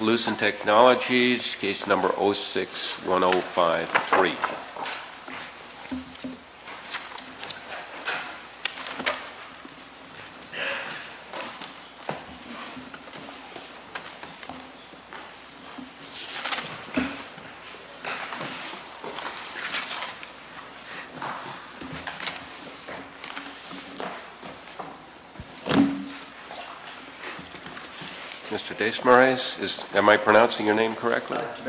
Lucent Technologies, Case No. 06-1053. Mr. Desmarais, am I pronouncing your name correctly? Mr.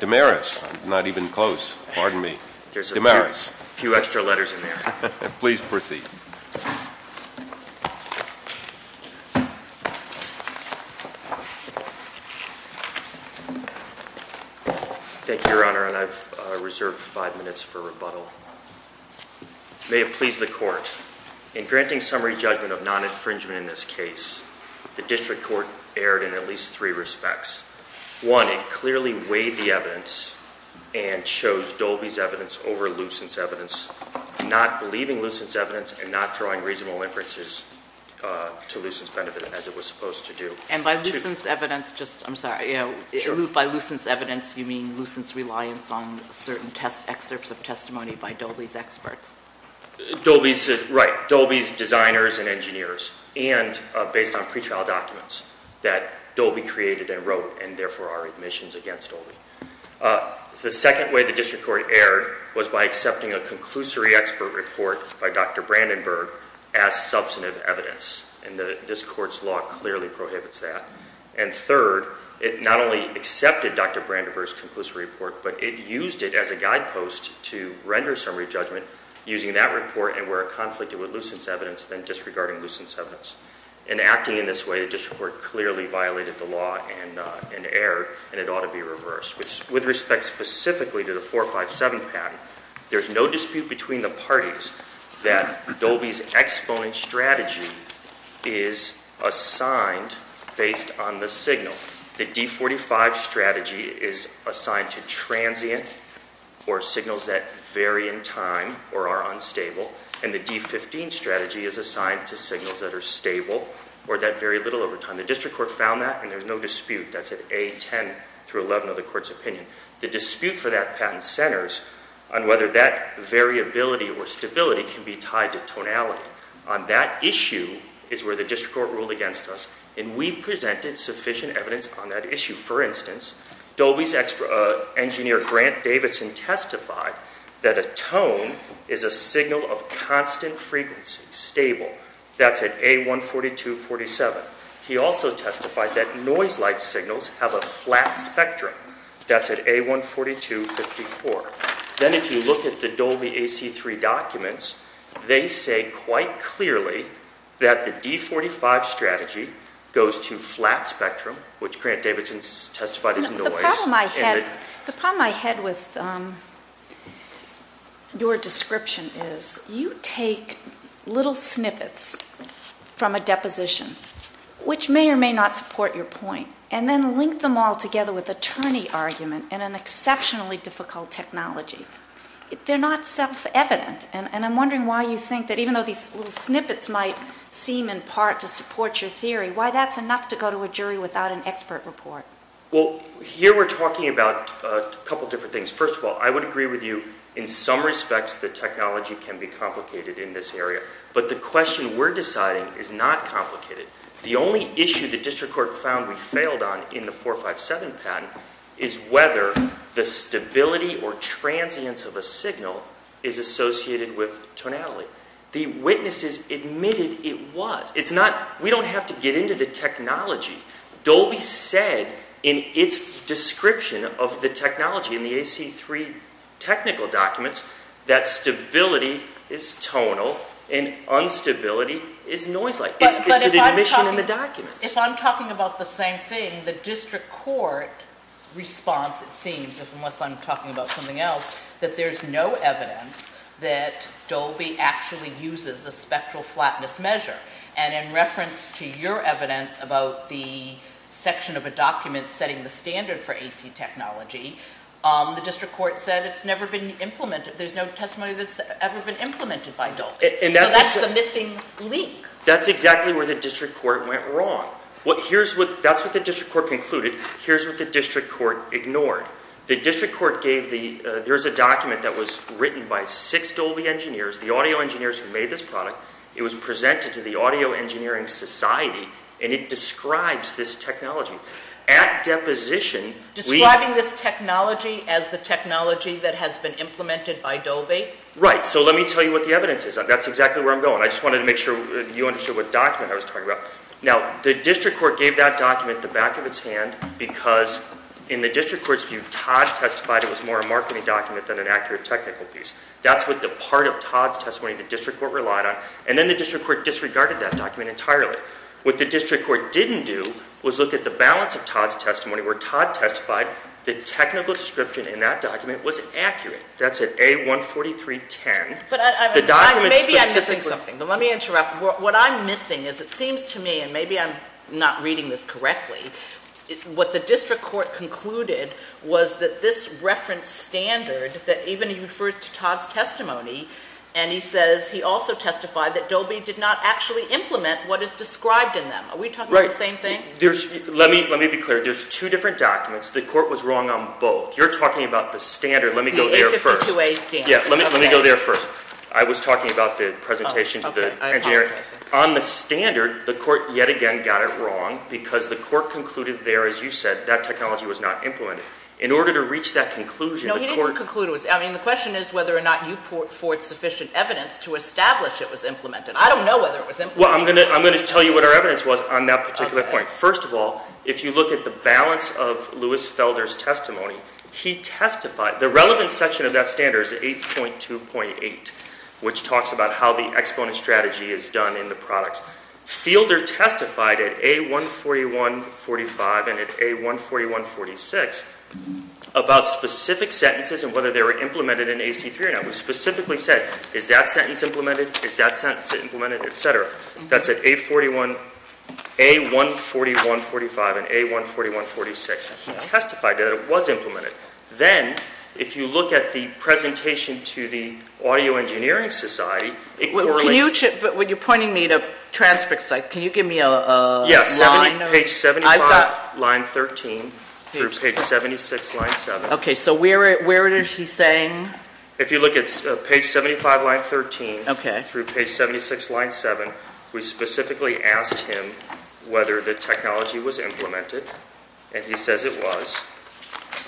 Desmarais. Mr. Desmarais. Not even close. Pardon me. Mr. Desmarais. A few extra letters in there. Please proceed. Thank you, Your Honor, and I've reserved five minutes for rebuttal. May it please the Court, in granting summary judgment of non-infringement in this case, the District Court erred in at least three respects. One, it clearly weighed the evidence and chose Dolby's evidence over Lucent's evidence, not believing Lucent's evidence and not drawing reasonable inferences to Lucent's benefit as it was supposed to do. And by Lucent's evidence, just, I'm sorry, by Lucent's evidence, you mean Lucent's reliance on certain excerpts of testimony by Dolby's experts? Right, Dolby's designers and engineers, and based on pretrial documents that Dolby created and wrote, and therefore our admissions against Dolby. The second way the District Court erred was by accepting a conclusory expert report by Dr. Brandenburg as substantive evidence, and this Court's law clearly prohibits that. And third, it not only accepted Dr. Brandenburg's conclusory report, but it used it as a guidepost to render summary judgment using that report and where it conflicted with Lucent's evidence than disregarding Lucent's evidence. And acting in this way, the District Court clearly violated the law and erred, and it ought to be reversed. With respect specifically to the 457 patent, there's no dispute between the parties that Dolby's exponent strategy is assigned based on the signal. The D45 strategy is assigned to transient or signals that vary in time or are unstable, and the D15 strategy is assigned to signals that are stable or that vary little over time. The District Court found that, and there's no dispute. That's at A10 through 11 of the Court's opinion. The dispute for that patent centers on whether that variability or stability can be tied to tonality. On that issue is where the District Court ruled against us, and we presented sufficient evidence on that issue. For instance, Dolby's engineer Grant Davidson testified that a tone is a signal of constant frequency, stable. That's at A142.47. He also testified that noise-like signals have a flat spectrum. That's at A142.54. Then if you look at the Dolby AC-3 documents, they say quite clearly that the D45 strategy goes to flat spectrum, which Grant Davidson testified is noise. The problem I had with your description is you take little snippets from a deposition, which may or may not support your point, and then link them all together with attorney argument in an exceptionally difficult technology. They're not self-evident, and I'm wondering why you think that even though these little snippets might seem in part to support your theory, why that's enough to go to a jury without an expert report. Well, here we're talking about a couple different things. First of all, I would agree with you in some respects that technology can be complicated in this area, but the question we're deciding is not complicated. The only issue the district court found we failed on in the 457 patent is whether the stability or transience of a signal is associated with tonality. The witnesses admitted it was. We don't have to get into the technology. Dolby said in its description of the technology in the AC-3 technical documents that stability is tonal and unstability is noise-like. It's an admission in the documents. If I'm talking about the same thing, the district court response, it seems, unless I'm talking about something else, that there's no evidence that Dolby actually uses a spectral flatness measure. And in reference to your evidence about the section of a document setting the standard for AC technology, the district court said it's never been implemented. So that's the missing link. That's exactly where the district court went wrong. That's what the district court concluded. Here's what the district court ignored. The district court gave the—there's a document that was written by six Dolby engineers, the audio engineers who made this product. It was presented to the Audio Engineering Society, and it describes this technology. At deposition— Describing this technology as the technology that has been implemented by Dolby? Right. So let me tell you what the evidence is. That's exactly where I'm going. I just wanted to make sure you understood what document I was talking about. Now, the district court gave that document the back of its hand because, in the district court's view, Todd testified it was more a marketing document than an accurate technical piece. That's what the part of Todd's testimony the district court relied on. And then the district court disregarded that document entirely. What the district court didn't do was look at the balance of Todd's testimony, where Todd testified the technical description in that document was accurate. That's at A143.10. But maybe I'm missing something. Let me interrupt. What I'm missing is it seems to me, and maybe I'm not reading this correctly, what the district court concluded was that this reference standard, that even he refers to Todd's testimony, and he says he also testified that Dolby did not actually implement what is described in them. Are we talking about the same thing? Right. Let me be clear. There's two different documents. The court was wrong on both. You're talking about the standard. Let me go there first. The 852A standard. Yeah, let me go there first. I was talking about the presentation to the engineer. On the standard, the court yet again got it wrong because the court concluded there, as you said, that technology was not implemented. In order to reach that conclusion, the court- No, he didn't conclude it was. I mean, the question is whether or not you fought for sufficient evidence to establish it was implemented. I don't know whether it was implemented. Well, I'm going to tell you what our evidence was on that particular point. First of all, if you look at the balance of Lewis Felder's testimony, he testified. The relevant section of that standard is 8.2.8, which talks about how the exponent strategy is done in the products. Felder testified at A14145 and at A14146 about specific sentences and whether they were implemented in AC-3. And that was specifically said, is that sentence implemented, is that sentence implemented, et cetera. That's at A14145 and A14146. He testified that it was implemented. Then, if you look at the presentation to the Audio Engineering Society, it correlates- When you're pointing me to transcripts, can you give me a line? Yes, page 75, line 13, through page 76, line 7. Okay, so where is he saying- If you look at page 75, line 13, through page 76, line 7, we specifically asked him whether the technology was implemented. And he says it was.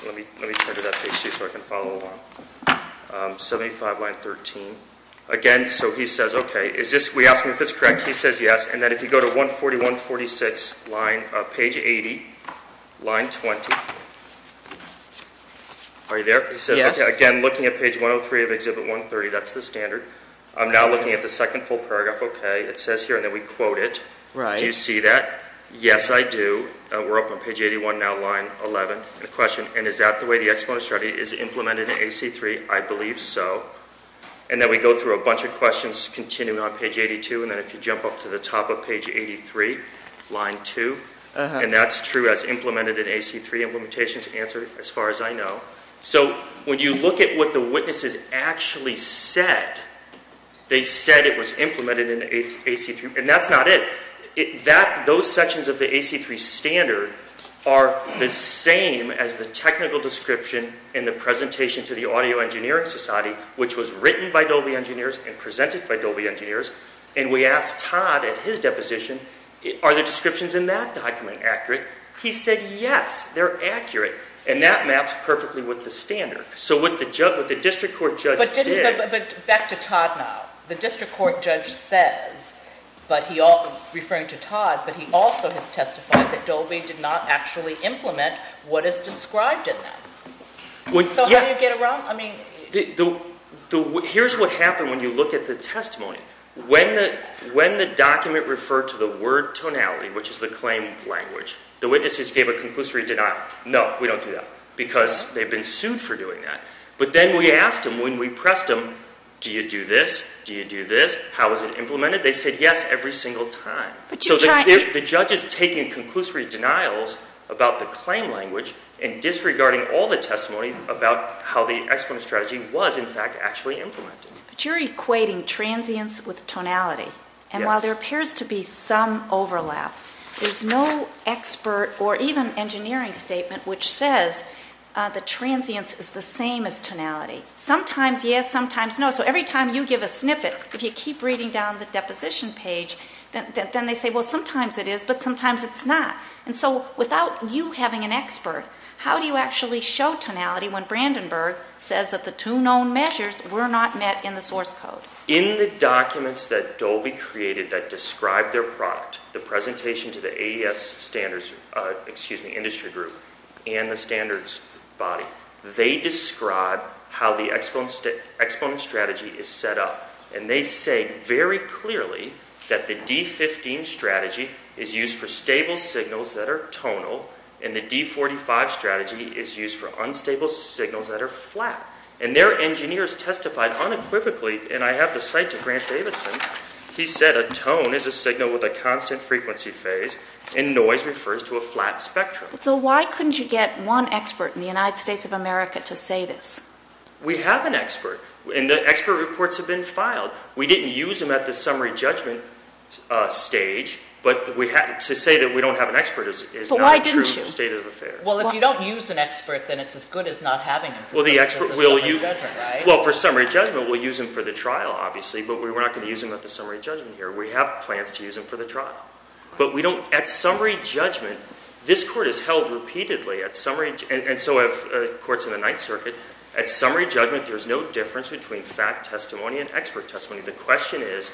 Let me turn to that page, too, so I can follow along. 75, line 13. Again, so he says, okay. We ask him if it's correct. He says yes. And then if you go to A14146, page 80, line 20. Are you there? Yes. Again, looking at page 103 of exhibit 130, that's the standard. I'm now looking at the second full paragraph. Okay. It says here, and then we quote it. Do you see that? Yes, I do. We're up on page 81 now, line 11. The question, and is that the way the exponent strategy is implemented in AC-3? I believe so. And then we go through a bunch of questions, continuing on page 82. And then if you jump up to the top of page 83, line 2. And that's true. That's implemented in AC-3. Implementations answered, as far as I know. So when you look at what the witnesses actually said, they said it was implemented in AC-3. And that's not it. Those sections of the AC-3 standard are the same as the technical description in the presentation to the Audio Engineering Society, which was written by Dolby engineers and presented by Dolby engineers. And we asked Todd at his deposition, are the descriptions in that document accurate? He said yes, they're accurate. And that maps perfectly with the standard. So what the district court judge did. But back to Todd now. The district court judge says, referring to Todd, but he also has testified that Dolby did not actually implement what is described in that. So how do you get around? Here's what happened when you look at the testimony. When the document referred to the word tonality, which is the claim language, the witnesses gave a conclusory denial. No, we don't do that because they've been sued for doing that. But then we asked them when we pressed them, do you do this? Do you do this? How is it implemented? They said yes every single time. So the judge is taking conclusory denials about the claim language and disregarding all the testimony about how the exponent strategy was, in fact, actually implemented. But you're equating transience with tonality. And while there appears to be some overlap, there's no expert or even engineering statement which says that transience is the same as tonality. Sometimes yes, sometimes no. So every time you give a snippet, if you keep reading down the deposition page, then they say, well, sometimes it is, but sometimes it's not. And so without you having an expert, how do you actually show tonality when Brandenburg says that the two known measures were not met in the source code? In the documents that Dolby created that describe their product, the presentation to the AES standards industry group and the standards body, they describe how the exponent strategy is set up. And they say very clearly that the D15 strategy is used for stable signals that are tonal and the D45 strategy is used for unstable signals that are flat. And their engineers testified unequivocally, and I have to cite to Grant Davidson, he said a tone is a signal with a constant frequency phase and noise refers to a flat spectrum. So why couldn't you get one expert in the United States of America to say this? We have an expert, and the expert reports have been filed. We didn't use them at the summary judgment stage, but to say that we don't have an expert is not a true state of affair. But why didn't you? Well, if you don't use an expert, then it's as good as not having him. As a summary judgment, right? Well, for summary judgment, we'll use him for the trial, obviously, but we're not going to use him at the summary judgment here. We have plans to use him for the trial. But at summary judgment, this court is held repeatedly at summary judgment. And so courts in the Ninth Circuit, at summary judgment, there's no difference between fact testimony and expert testimony. The question is,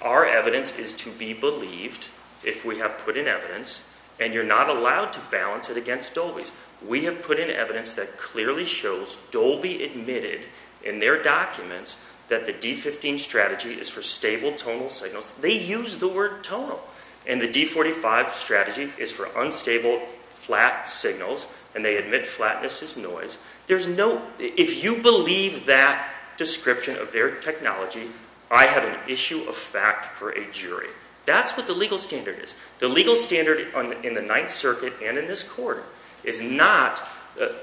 our evidence is to be believed if we have put in evidence, and you're not allowed to balance it against Dolby's. We have put in evidence that clearly shows Dolby admitted in their documents that the D-15 strategy is for stable tonal signals. They use the word tonal. And the D-45 strategy is for unstable flat signals, and they admit flatness is noise. If you believe that description of their technology, I have an issue of fact for a jury. That's what the legal standard is. The legal standard in the Ninth Circuit and in this court is not,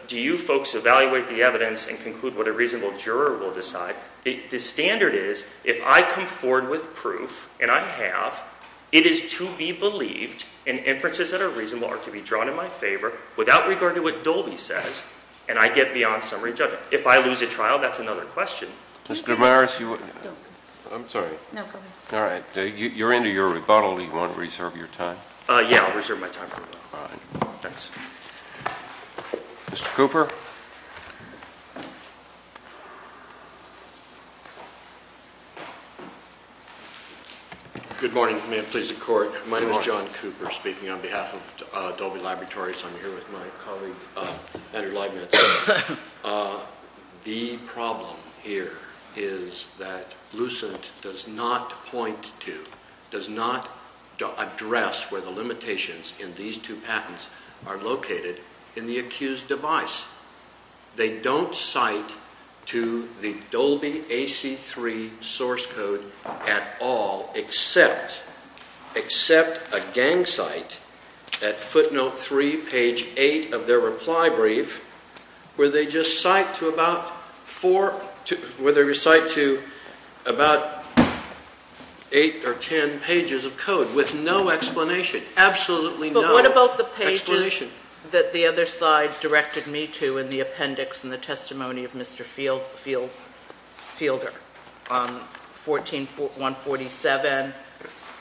do you folks evaluate the evidence and conclude what a reasonable juror will decide? The standard is, if I come forward with proof, and I have, it is to be believed and inferences that are reasonable are to be drawn in my favor without regard to what Dolby says, and I get beyond summary judgment. If I lose a trial, that's another question. Mr. Morris, I'm sorry. No, go ahead. All right. You're into your rebuttal. Do you want to reserve your time? Yeah, I'll reserve my time for that. All right. Thanks. Mr. Cooper. Good morning. May it please the Court. My name is John Cooper speaking on behalf of Dolby Laboratories. I'm here with my colleague, Andrew Leibniz. The problem here is that Lucent does not point to, does not address where the limitations in these two patents are located in the accused device. They don't cite to the Dolby AC-3 source code at all except a gang site at footnote 3, page 8 of their reply brief, where they just cite to about 4, where they recite to about 8 or 10 pages of code with no explanation. Absolutely no explanation. But what about the pages that the other side directed me to in the appendix and the testimony of Mr. Fielder? 14, 147,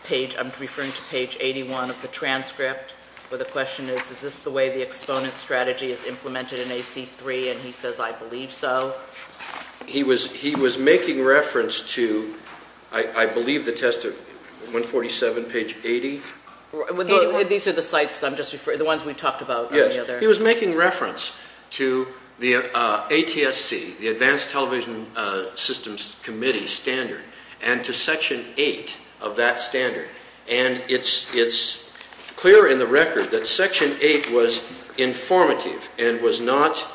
page, I'm referring to page 81 of the transcript, where the question is, is this the way the exponent strategy is implemented in AC-3? And he says, I believe so. He was making reference to, I believe, the test of 147, page 80. These are the sites that I'm just, the ones we talked about on the other. He was making reference to the ATSC, the Advanced Television Systems Committee standard, and to section 8 of that standard. And it's clear in the record that section 8 was informative and was not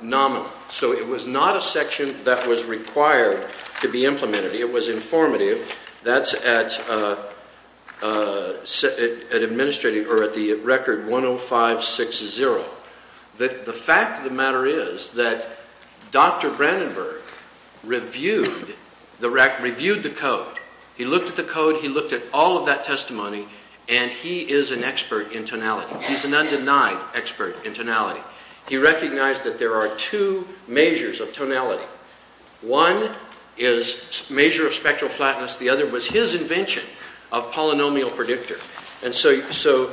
nominal. So it was not a section that was required to be implemented. It was informative. That's at the record 10560. The fact of the matter is that Dr. Brandenburg reviewed the code. He looked at the code. He looked at all of that testimony. And he is an expert in tonality. He's an undenied expert in tonality. He recognized that there are two measures of tonality. One is measure of spectral flatness. The other was his invention of polynomial predictor. And so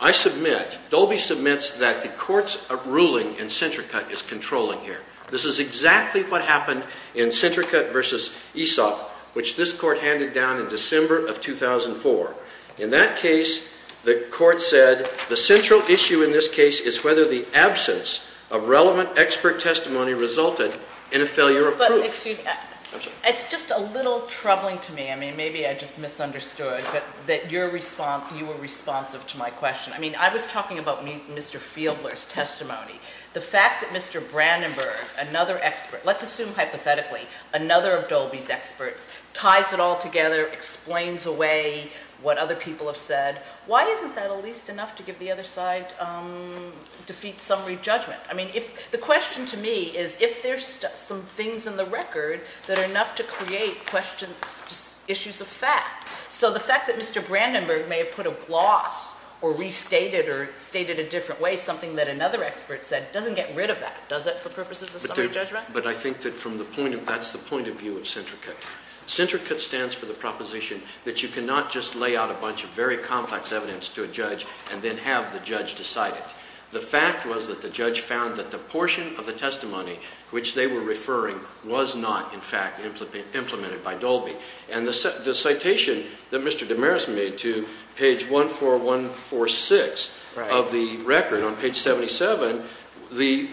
I submit, Dolby submits that the court's ruling in Centricut is controlling here. This is exactly what happened in Centricut versus ESOP, which this court handed down in December of 2004. In that case, the court said, the central issue in this case is whether the absence of relevant expert testimony resulted in a failure of proof. It's just a little troubling to me. I mean, maybe I just misunderstood that you were responsive to my question. I mean, I was talking about Mr. Fieldler's testimony. The fact that Mr. Brandenburg, another expert, let's assume hypothetically another of Dolby's experts, ties it all together, explains away what other people have said, why isn't that at least enough to give the other side defeat summary judgment? I mean, the question to me is if there's some things in the record that are enough to create questions, issues of fact. So the fact that Mr. Brandenburg may have put a gloss or restated or stated a different way, something that another expert said, doesn't get rid of that, does it, for purposes of summary judgment? But I think that's the point of view of Centricut. Centricut stands for the proposition that you cannot just lay out a bunch of very complex evidence to a judge and then have the judge decide it. The fact was that the judge found that the portion of the testimony which they were referring was not, in fact, implemented by Dolby. And the citation that Mr. Damaris made to page 14146 of the record on page 77, the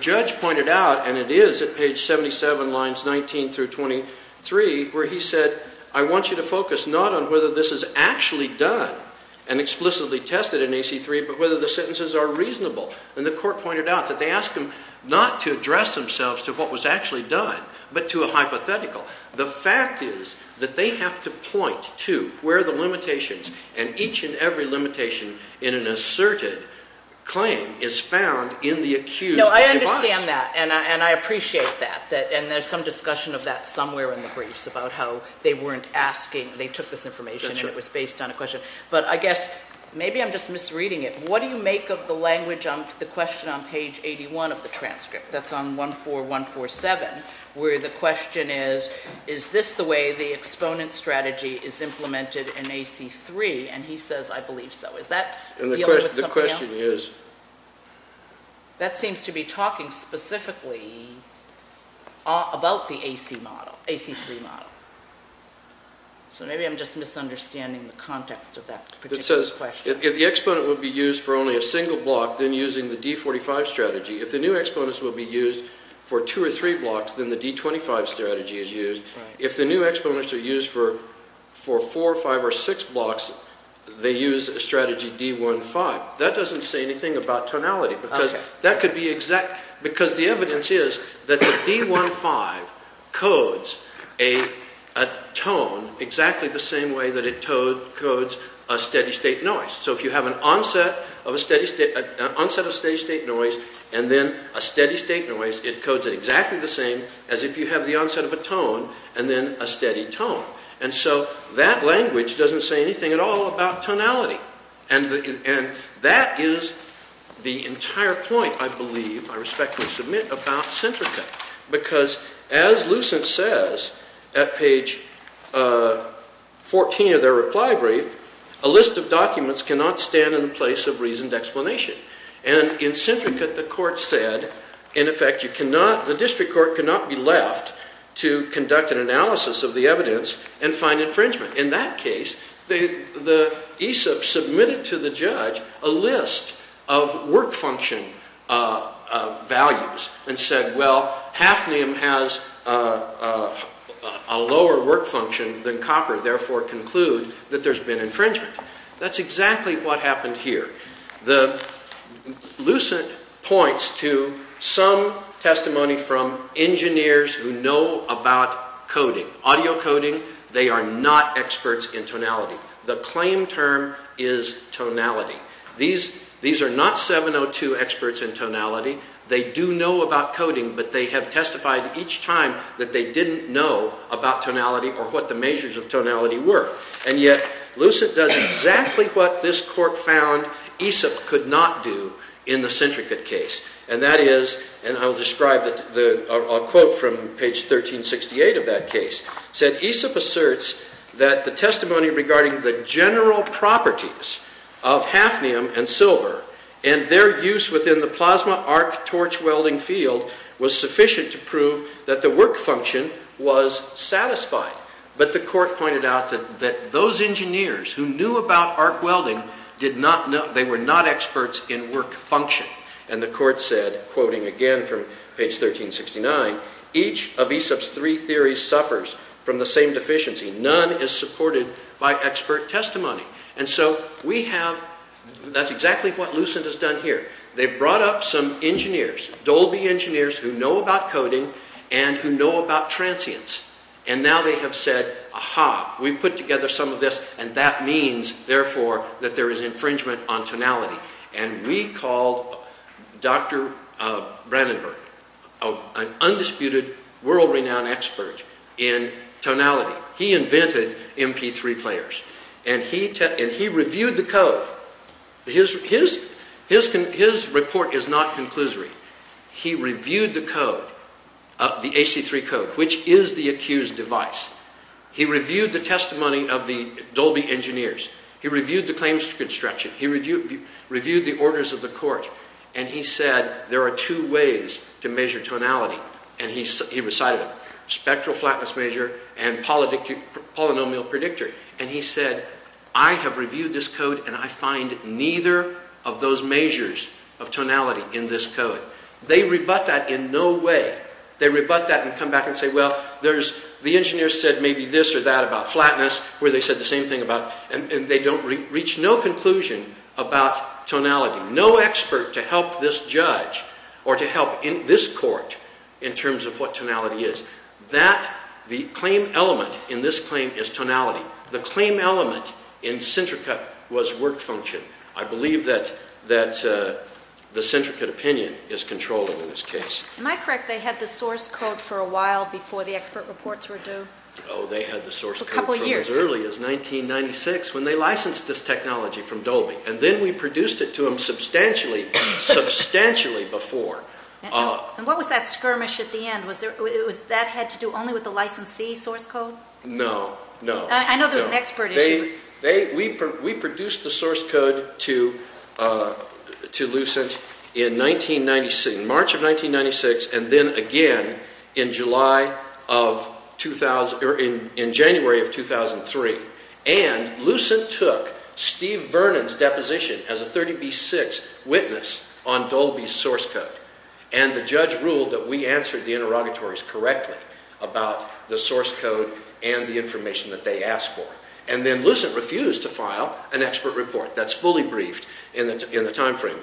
judge pointed out, and it is at page 77, lines 19 through 23, where he said, I want you to focus not on whether this is actually done and explicitly tested in AC-3, but whether the sentences are reasonable. And the court pointed out that they asked him not to address themselves to what was actually done, but to a hypothetical. The fact is that they have to point to where the limitations, and each and every limitation in an asserted claim is found in the accused. No, I understand that, and I appreciate that, and there's some discussion of that somewhere in the briefs, about how they weren't asking, they took this information and it was based on a question. But I guess, maybe I'm just misreading it. What do you make of the language on the question on page 81 of the transcript, that's on 14147, where the question is, is this the way the exponent strategy is implemented in AC-3? And he says, I believe so. Is that dealing with something else? The question is? That seems to be talking specifically about the AC-3 model. So maybe I'm just misunderstanding the context of that particular question. It says, if the exponent would be used for only a single block, then using the D-45 strategy. If the new exponents would be used for two or three blocks, then the D-25 strategy is used. If the new exponents are used for four, five, or six blocks, they use strategy D-15. That doesn't say anything about tonality, because the evidence is that the D-15 codes a tone exactly the same way that it codes a steady state noise. So if you have an onset of steady state noise, and then a steady state noise, it codes it exactly the same as if you have the onset of a tone, and then a steady tone. And so that language doesn't say anything at all about tonality. And that is the entire point, I believe, I respectfully submit, about Centrica. Because as Lucent says at page 14 of their reply brief, a list of documents cannot stand in the place of reasoned explanation. And in Centrica, the court said, in effect, you cannot, the district court cannot be left to conduct an analysis of the evidence and find infringement. In that case, the ESOP submitted to the judge a list of work function values and said, well, hafnium has a lower work function than copper, therefore conclude that there's been infringement. That's exactly what happened here. Lucent points to some testimony from engineers who know about coding, audio coding. They are not experts in tonality. The claim term is tonality. These are not 702 experts in tonality. They do know about coding, but they have testified each time that they didn't know about tonality or what the measures of tonality were. And yet, Lucent does exactly what this court found ESOP could not do in the Centrica case. And that is, and I'll describe a quote from page 1368 of that case, said ESOP asserts that the testimony regarding the general properties of hafnium and silver and their use within the plasma arc torch welding field was sufficient to prove that the work function was satisfied. But the court pointed out that those engineers who knew about arc welding, they were not experts in work function. And the court said, quoting again from page 1369, each of ESOP's three theories suffers from the same deficiency. None is supported by expert testimony. And so we have, that's exactly what Lucent has done here. They've brought up some engineers, Dolby engineers who know about coding and who know about transients. And now they have said, aha, we've put together some of this, and that means, therefore, that there is infringement on tonality. And we called Dr. Brandenburg, an undisputed world-renowned expert in tonality. He invented MP3 players. And he reviewed the code. His report is not conclusory. He reviewed the code, the AC-3 code, which is the accused device. He reviewed the testimony of the Dolby engineers. He reviewed the claims to construction. He reviewed the orders of the court. And he said, there are two ways to measure tonality. And he recited them, spectral flatness measure and polynomial predictor. And he said, I have reviewed this code, and I find neither of those measures of tonality in this code. They rebut that in no way. They rebut that and come back and say, well, the engineers said maybe this or that about flatness, where they said the same thing about, and they don't reach no conclusion about tonality. No expert to help this judge or to help this court in terms of what tonality is. That, the claim element in this claim is tonality. The claim element in Centrica was work function. I believe that the Centrica opinion is controllable in this case. Am I correct they had the source code for a while before the expert reports were due? Oh, they had the source code from as early as 1996. When they licensed this technology from Dolby. And then we produced it to them substantially, substantially before. And what was that skirmish at the end? Was that had to do only with the licensee source code? No, no. I know there was an expert issue. We produced the source code to Lucent in 1996, in March of 1996, and then again in July of 2000, or in January of 2003. And Lucent took Steve Vernon's deposition as a 30B6 witness on Dolby's source code. And the judge ruled that we answered the interrogatories correctly about the source code and the information that they asked for. And then Lucent refused to file an expert report. That's fully briefed in the time frame.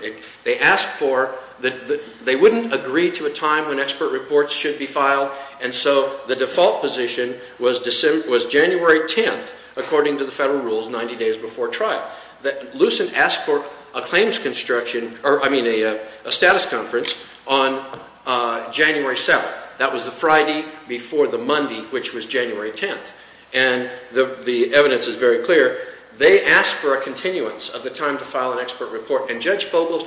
They asked for, they wouldn't agree to a time when expert reports should be filed. And so the default position was January 10th, according to the federal rules, 90 days before trial. Lucent asked for a claims construction, or I mean a status conference, on January 7th. That was the Friday before the Monday, which was January 10th. And the evidence is very clear. They asked for a continuance of the time to file an expert report. I, Judge Bogle,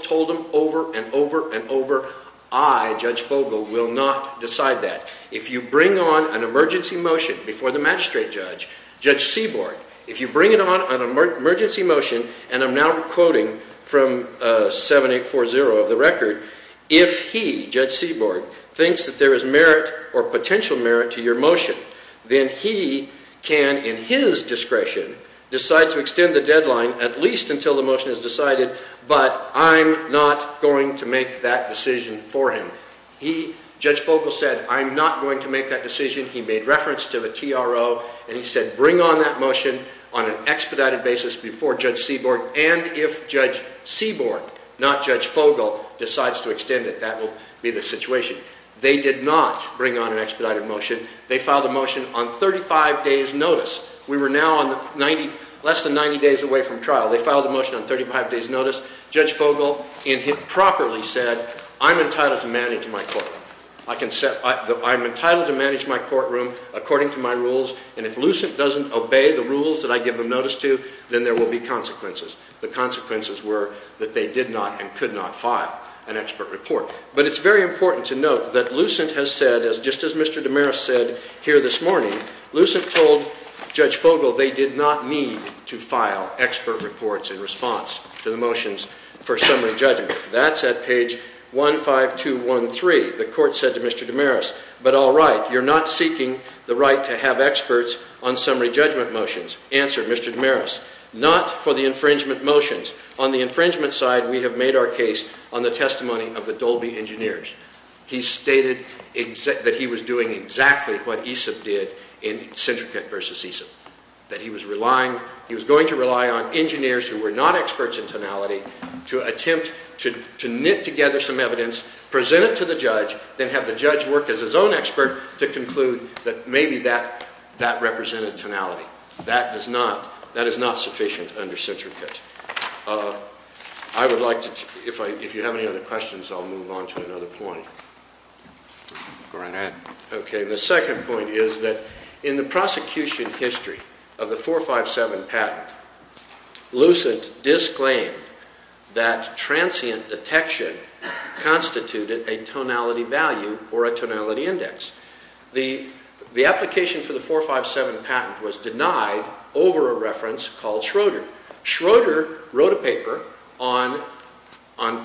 will not decide that. If you bring on an emergency motion before the magistrate judge, Judge Seaborg, if you bring on an emergency motion, and I'm now quoting from 7840 of the record, if he, Judge Seaborg, thinks that there is merit or potential merit to your motion, then he can, in his discretion, decide to extend the deadline at least until the motion is decided. But I'm not going to make that decision for him. He, Judge Bogle, said I'm not going to make that decision. He made reference to the TRO, and he said bring on that motion on an expedited basis before Judge Seaborg. And if Judge Seaborg, not Judge Bogle, decides to extend it, that will be the situation. They did not bring on an expedited motion. They filed a motion on 35 days' notice. We were now less than 90 days away from trial. They filed a motion on 35 days' notice. Judge Bogle, in his properly, said I'm entitled to manage my courtroom. I'm entitled to manage my courtroom according to my rules, and if Lucent doesn't obey the rules that I give them notice to, then there will be consequences. The consequences were that they did not and could not file an expert report. But it's very important to note that Lucent has said, just as Mr. DeMaris said here this morning, Lucent told Judge Bogle they did not need to file expert reports in response to the motions for summary judgment. That's at page 15213. The court said to Mr. DeMaris, but all right, you're not seeking the right to have experts on summary judgment motions, answered Mr. DeMaris, not for the infringement motions. On the infringement side, we have made our case on the testimony of the Dolby engineers. He stated that he was doing exactly what Aesop did in Centricate versus Aesop, that he was going to rely on engineers who were not experts in tonality to attempt to knit together some evidence, present it to the judge, then have the judge work as his own expert to conclude that maybe that represented tonality. That is not sufficient under Centricate. I would like to, if you have any other questions, I'll move on to another point. Go right ahead. Okay, the second point is that in the prosecution history of the 457 patent, Lucent disclaimed that transient detection constituted a tonality value or a tonality index. The application for the 457 patent was denied over a reference called Schroeder. Schroeder wrote a paper on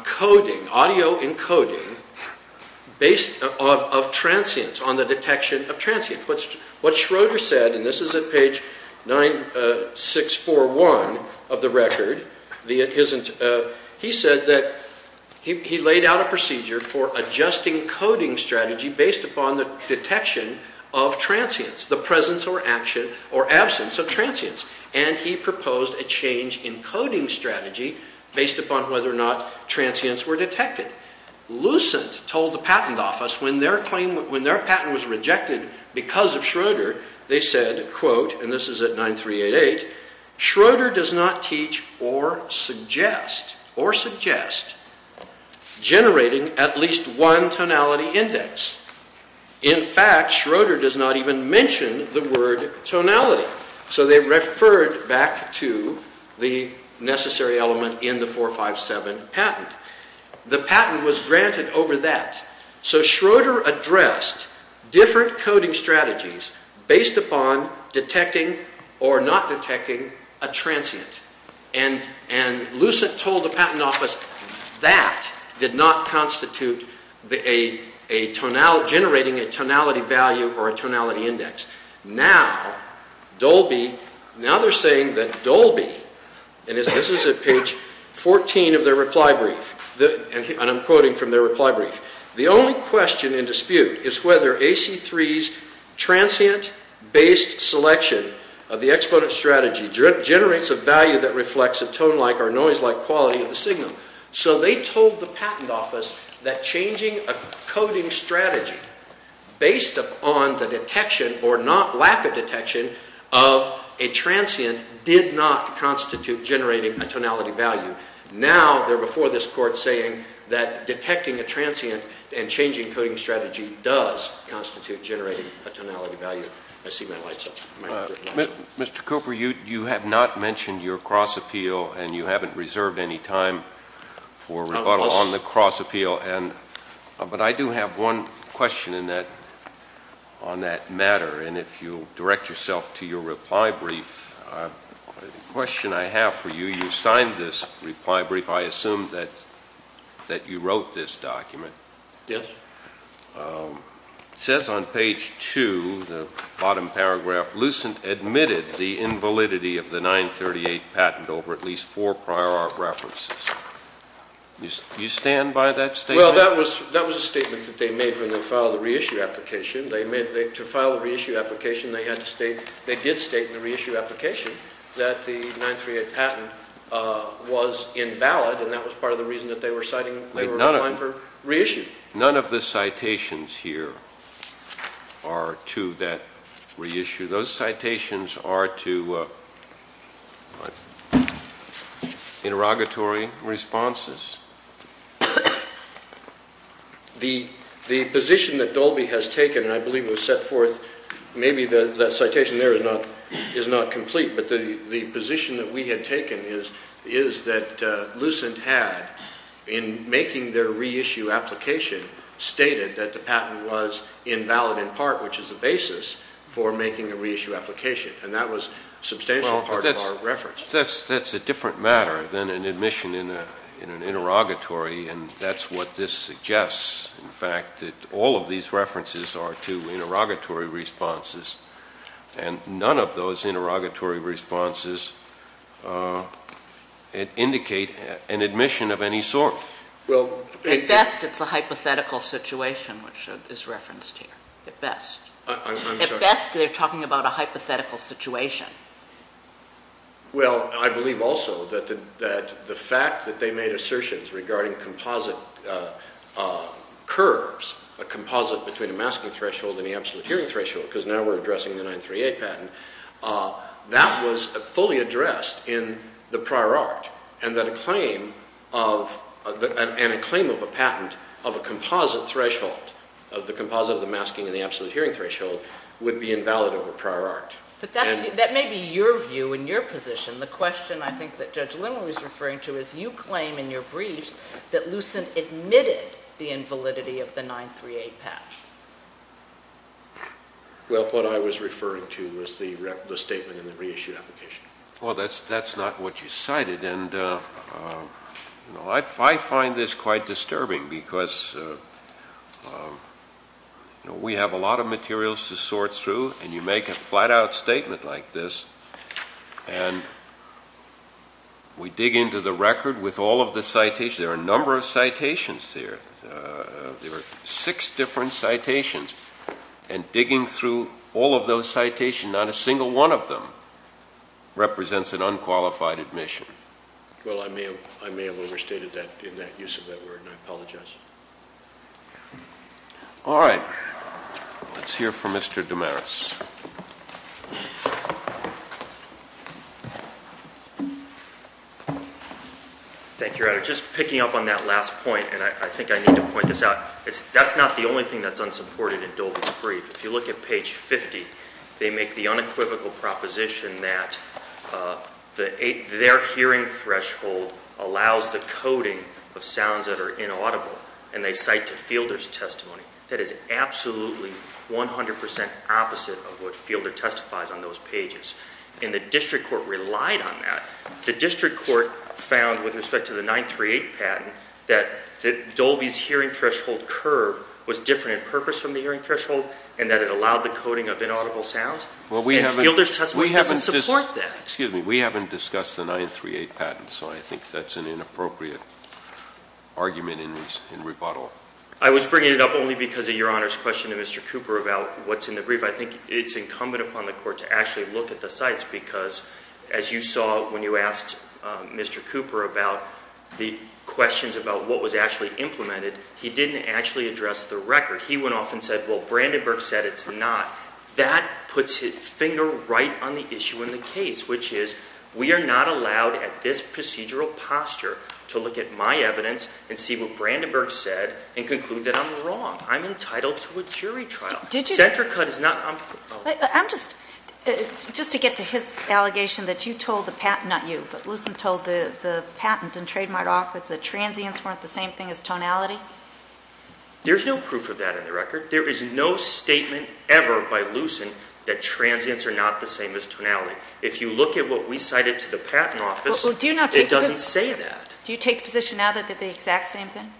coding, audio encoding of transients, on the detection of transients. What Schroeder said, and this is at page 9641 of the record, he said that he laid out a procedure for adjusting coding strategy based upon the detection of transients, the presence or absence of transients. And he proposed a change in coding strategy based upon whether or not transients were detected. Lucent told the patent office when their patent was rejected because of Schroeder, they said, quote, and this is at 9388, Schroeder does not teach or suggest generating at least one tonality index. In fact, Schroeder does not even mention the word tonality. So they referred back to the necessary element in the 457 patent. The patent was granted over that. So Schroeder addressed different coding strategies based upon detecting or not detecting a transient. And Lucent told the patent office that did not constitute generating a tonality value or a tonality index. Now, Dolby, now they're saying that Dolby, and this is at page 14 of their reply brief, and I'm quoting from their reply brief, the only question in dispute is whether AC-3's transient-based selection of the exponent strategy generates a value that reflects a tone-like or noise-like quality of the signal. So they told the patent office that changing a coding strategy based upon the detection or not lack of detection of a transient did not constitute generating a tonality value. Now they're before this Court saying that detecting a transient and changing coding strategy does constitute generating a tonality value. I see my light's up. Mr. Cooper, you have not mentioned your cross-appeal, and you haven't reserved any time for rebuttal on the cross-appeal. But I do have one question on that matter, and if you'll direct yourself to your reply brief. The question I have for you, you signed this reply brief. I assume that you wrote this document. Yes. It says on page 2, the bottom paragraph, Lucent admitted the invalidity of the 938 patent over at least four prior art references. Do you stand by that statement? Well, that was a statement that they made when they filed the reissue application. To file the reissue application, they did state in the reissue application that the 938 patent was invalid, and that was part of the reason that they were signing the claim for reissue. None of the citations here are to that reissue. Those citations are to interrogatory responses. The position that Dolby has taken, and I believe it was set forth, maybe that citation there is not complete, but the position that we had taken is that Lucent had, in making their reissue application, stated that the patent was invalid in part, which is the basis for making a reissue application, and that was a substantial part of our reference. That's a different matter than an admission in an interrogatory, and that's what this suggests. In fact, all of these references are to interrogatory responses, and none of those interrogatory responses indicate an admission of any sort. At best, it's a hypothetical situation, which is referenced here. At best. At best, they're talking about a hypothetical situation. Well, I believe also that the fact that they made assertions regarding composite curves, a composite between a masking threshold and the absolute hearing threshold, because now we're addressing the 938 patent, that was fully addressed in the prior art, and that a claim of a patent of a composite threshold, of the composite of the masking and the absolute hearing threshold, would be invalid over prior art. But that may be your view and your position. The question I think that Judge Linder was referring to is you claim in your briefs that Lucent admitted the invalidity of the 938 patent. Well, what I was referring to was the statement in the reissued application. Well, that's not what you cited, and I find this quite disturbing because we have a lot of materials to sort through, and you make a flat-out statement like this, and we dig into the record with all of the citations. There are a number of citations here. There are six different citations, and digging through all of those citations, not a single one of them represents an unqualified admission. Well, I may have overstated that in that use of that word, and I apologize. All right. Let's hear from Mr. DeMaris. Thank you, Your Honor. Just picking up on that last point, and I think I need to point this out, that's not the only thing that's unsupported in Dolby's brief. If you look at page 50, they make the unequivocal proposition that their hearing threshold allows the coding of sounds that are inaudible, and they cite to Fielder's testimony. That is absolutely 100 percent opposite of what Fielder testifies on those pages, and the district court relied on that. The district court found, with respect to the 938 patent, that Dolby's hearing threshold curve was different in purpose from the hearing threshold and that it allowed the coding of inaudible sounds, and Fielder's testimony doesn't support that. Well, we haven't discussed the 938 patent, so I think that's an inappropriate argument in rebuttal. I was bringing it up only because of Your Honor's question to Mr. Cooper about what's in the brief. I think it's incumbent upon the court to actually look at the sites, because as you saw when you asked Mr. Cooper about the questions about what was actually implemented, he didn't actually address the record. He went off and said, well, Brandenburg said it's not. That puts his finger right on the issue in the case, which is we are not allowed at this procedural posture to look at my evidence and see what Brandenburg said and conclude that I'm wrong. I'm entitled to a jury trial. SentraCut is not... I'm just... just to get to his allegation that you told the patent, not you, but Lucent told the patent and trademark office that transients weren't the same thing as tonality. There's no proof of that in the record. There is no statement ever by Lucent that transients are not the same as tonality. If you look at what we cited to the patent office, it doesn't say that. Do you take the position now that they're the exact same thing?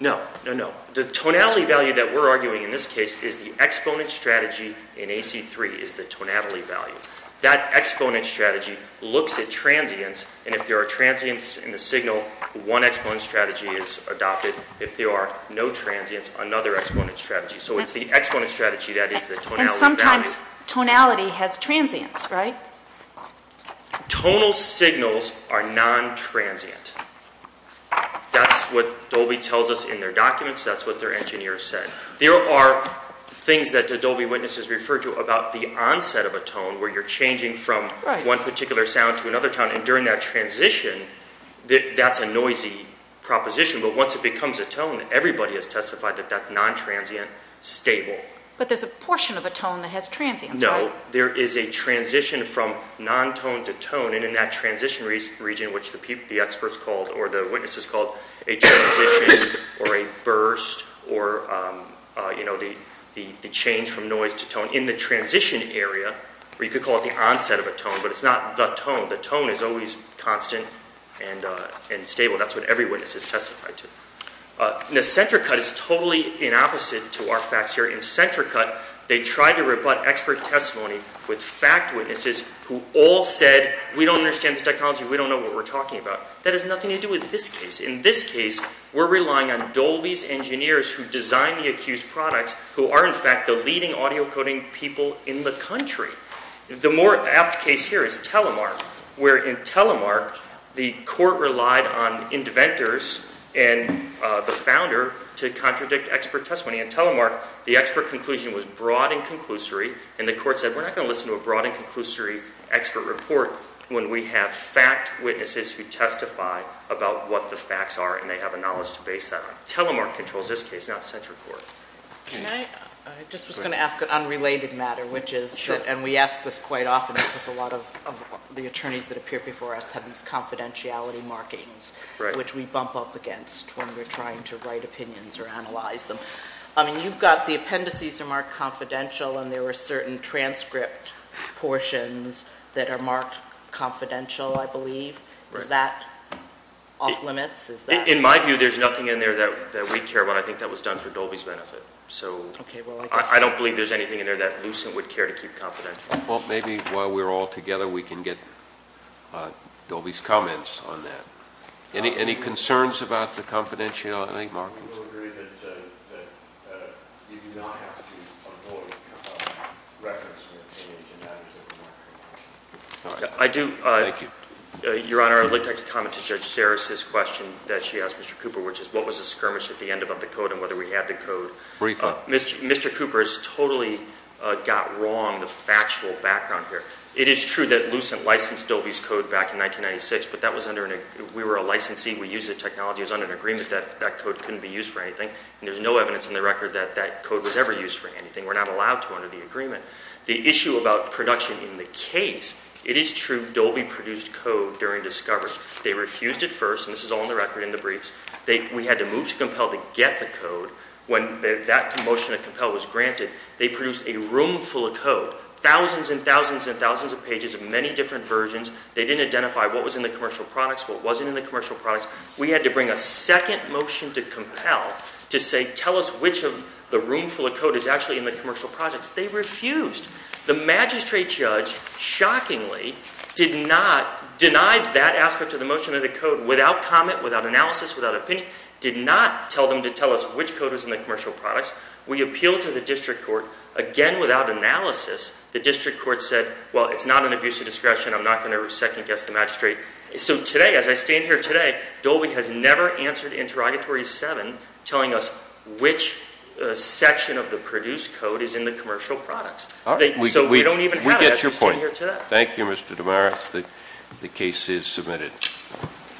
No, no, no. The tonality value that we're arguing in this case is the exponent strategy in AC-3 is the tonality value. That exponent strategy looks at transients, and if there are transients in the signal, one exponent strategy is adopted. If there are no transients, another exponent strategy. So it's the exponent strategy that is the tonality value. But sometimes tonality has transients, right? Tonal signals are non-transient. That's what Dolby tells us in their documents. That's what their engineers said. There are things that the Dolby witnesses refer to about the onset of a tone where you're changing from one particular sound to another tone, and during that transition, that's a noisy proposition. But once it becomes a tone, everybody has testified that that's non-transient, stable. But there's a portion of a tone that has transients, right? No. There is a transition from non-tone to tone, and in that transition region, which the experts called or the witnesses called a transition or a burst or the change from noise to tone in the transition area, or you could call it the onset of a tone, but it's not the tone. The tone is always constant and stable. That's what every witness has testified to. Centricut is totally in opposite to our facts here. In Centricut, they tried to rebut expert testimony with fact witnesses who all said we don't understand the technology, we don't know what we're talking about. That has nothing to do with this case. In this case, we're relying on Dolby's engineers who designed the accused products who are, in fact, the leading audio coding people in the country. The more apt case here is Telemark, where in Telemark, the court relied on inventors and the founder to contradict expert testimony. In Telemark, the expert conclusion was broad and conclusory, and the court said we're not going to listen to a broad and conclusory expert report when we have fact witnesses who testify about what the facts are and they have the knowledge to base that on. Telemark controls this case, not Centricort. I just was going to ask an unrelated matter, which is, and we ask this quite often because a lot of the attorneys that appear before us have these confidentiality markings, which we bump up against when we're trying to write opinions or analyze them. I mean, you've got the appendices are marked confidential and there were certain transcript portions that are marked confidential, I believe. Is that off limits? In my view, there's nothing in there that we care about. I think that was done for Dolby's benefit. I don't believe there's anything in there that Lucent would care to keep confidential. Well, maybe while we're all together, we can get Dolby's comments on that. Any concerns about the confidentiality markings? We will agree that you do not have to avoid reference to any of the matters that were marked. I do. Thank you. Your Honor, I would like to comment to Judge Sarris's question that she asked Mr. Cooper, which is what was the skirmish at the end about the code and whether we had the code. Briefly. Mr. Cooper has totally got wrong the factual background here. It is true that Lucent licensed Dolby's code back in 1996, but we were a licensee. We used the technology. It was under an agreement that that code couldn't be used for anything, and there's no evidence in the record that that code was ever used for anything. We're not allowed to under the agreement. The issue about production in the case, it is true Dolby produced code during discovery. They refused it first, and this is all in the record in the briefs. We had to move to compel to get the code. When that motion to compel was granted, they produced a room full of code, thousands and thousands and thousands of pages of many different versions. They didn't identify what was in the commercial products, what wasn't in the commercial products. We had to bring a second motion to compel to say, tell us which of the room full of code is actually in the commercial products. They refused. The magistrate judge, shockingly, did not deny that aspect of the motion of the code without comment, without analysis, without opinion, did not tell them to tell us which code was in the commercial products. We appealed to the district court. Again, without analysis, the district court said, well, it's not an abuse of discretion. I'm not going to second-guess the magistrate. So today, as I stand here today, Dolby has never answered interrogatory seven, telling us which section of the produced code is in the commercial products. So we don't even have that. We get your point. Thank you, Mr. DeMaris. The case is submitted.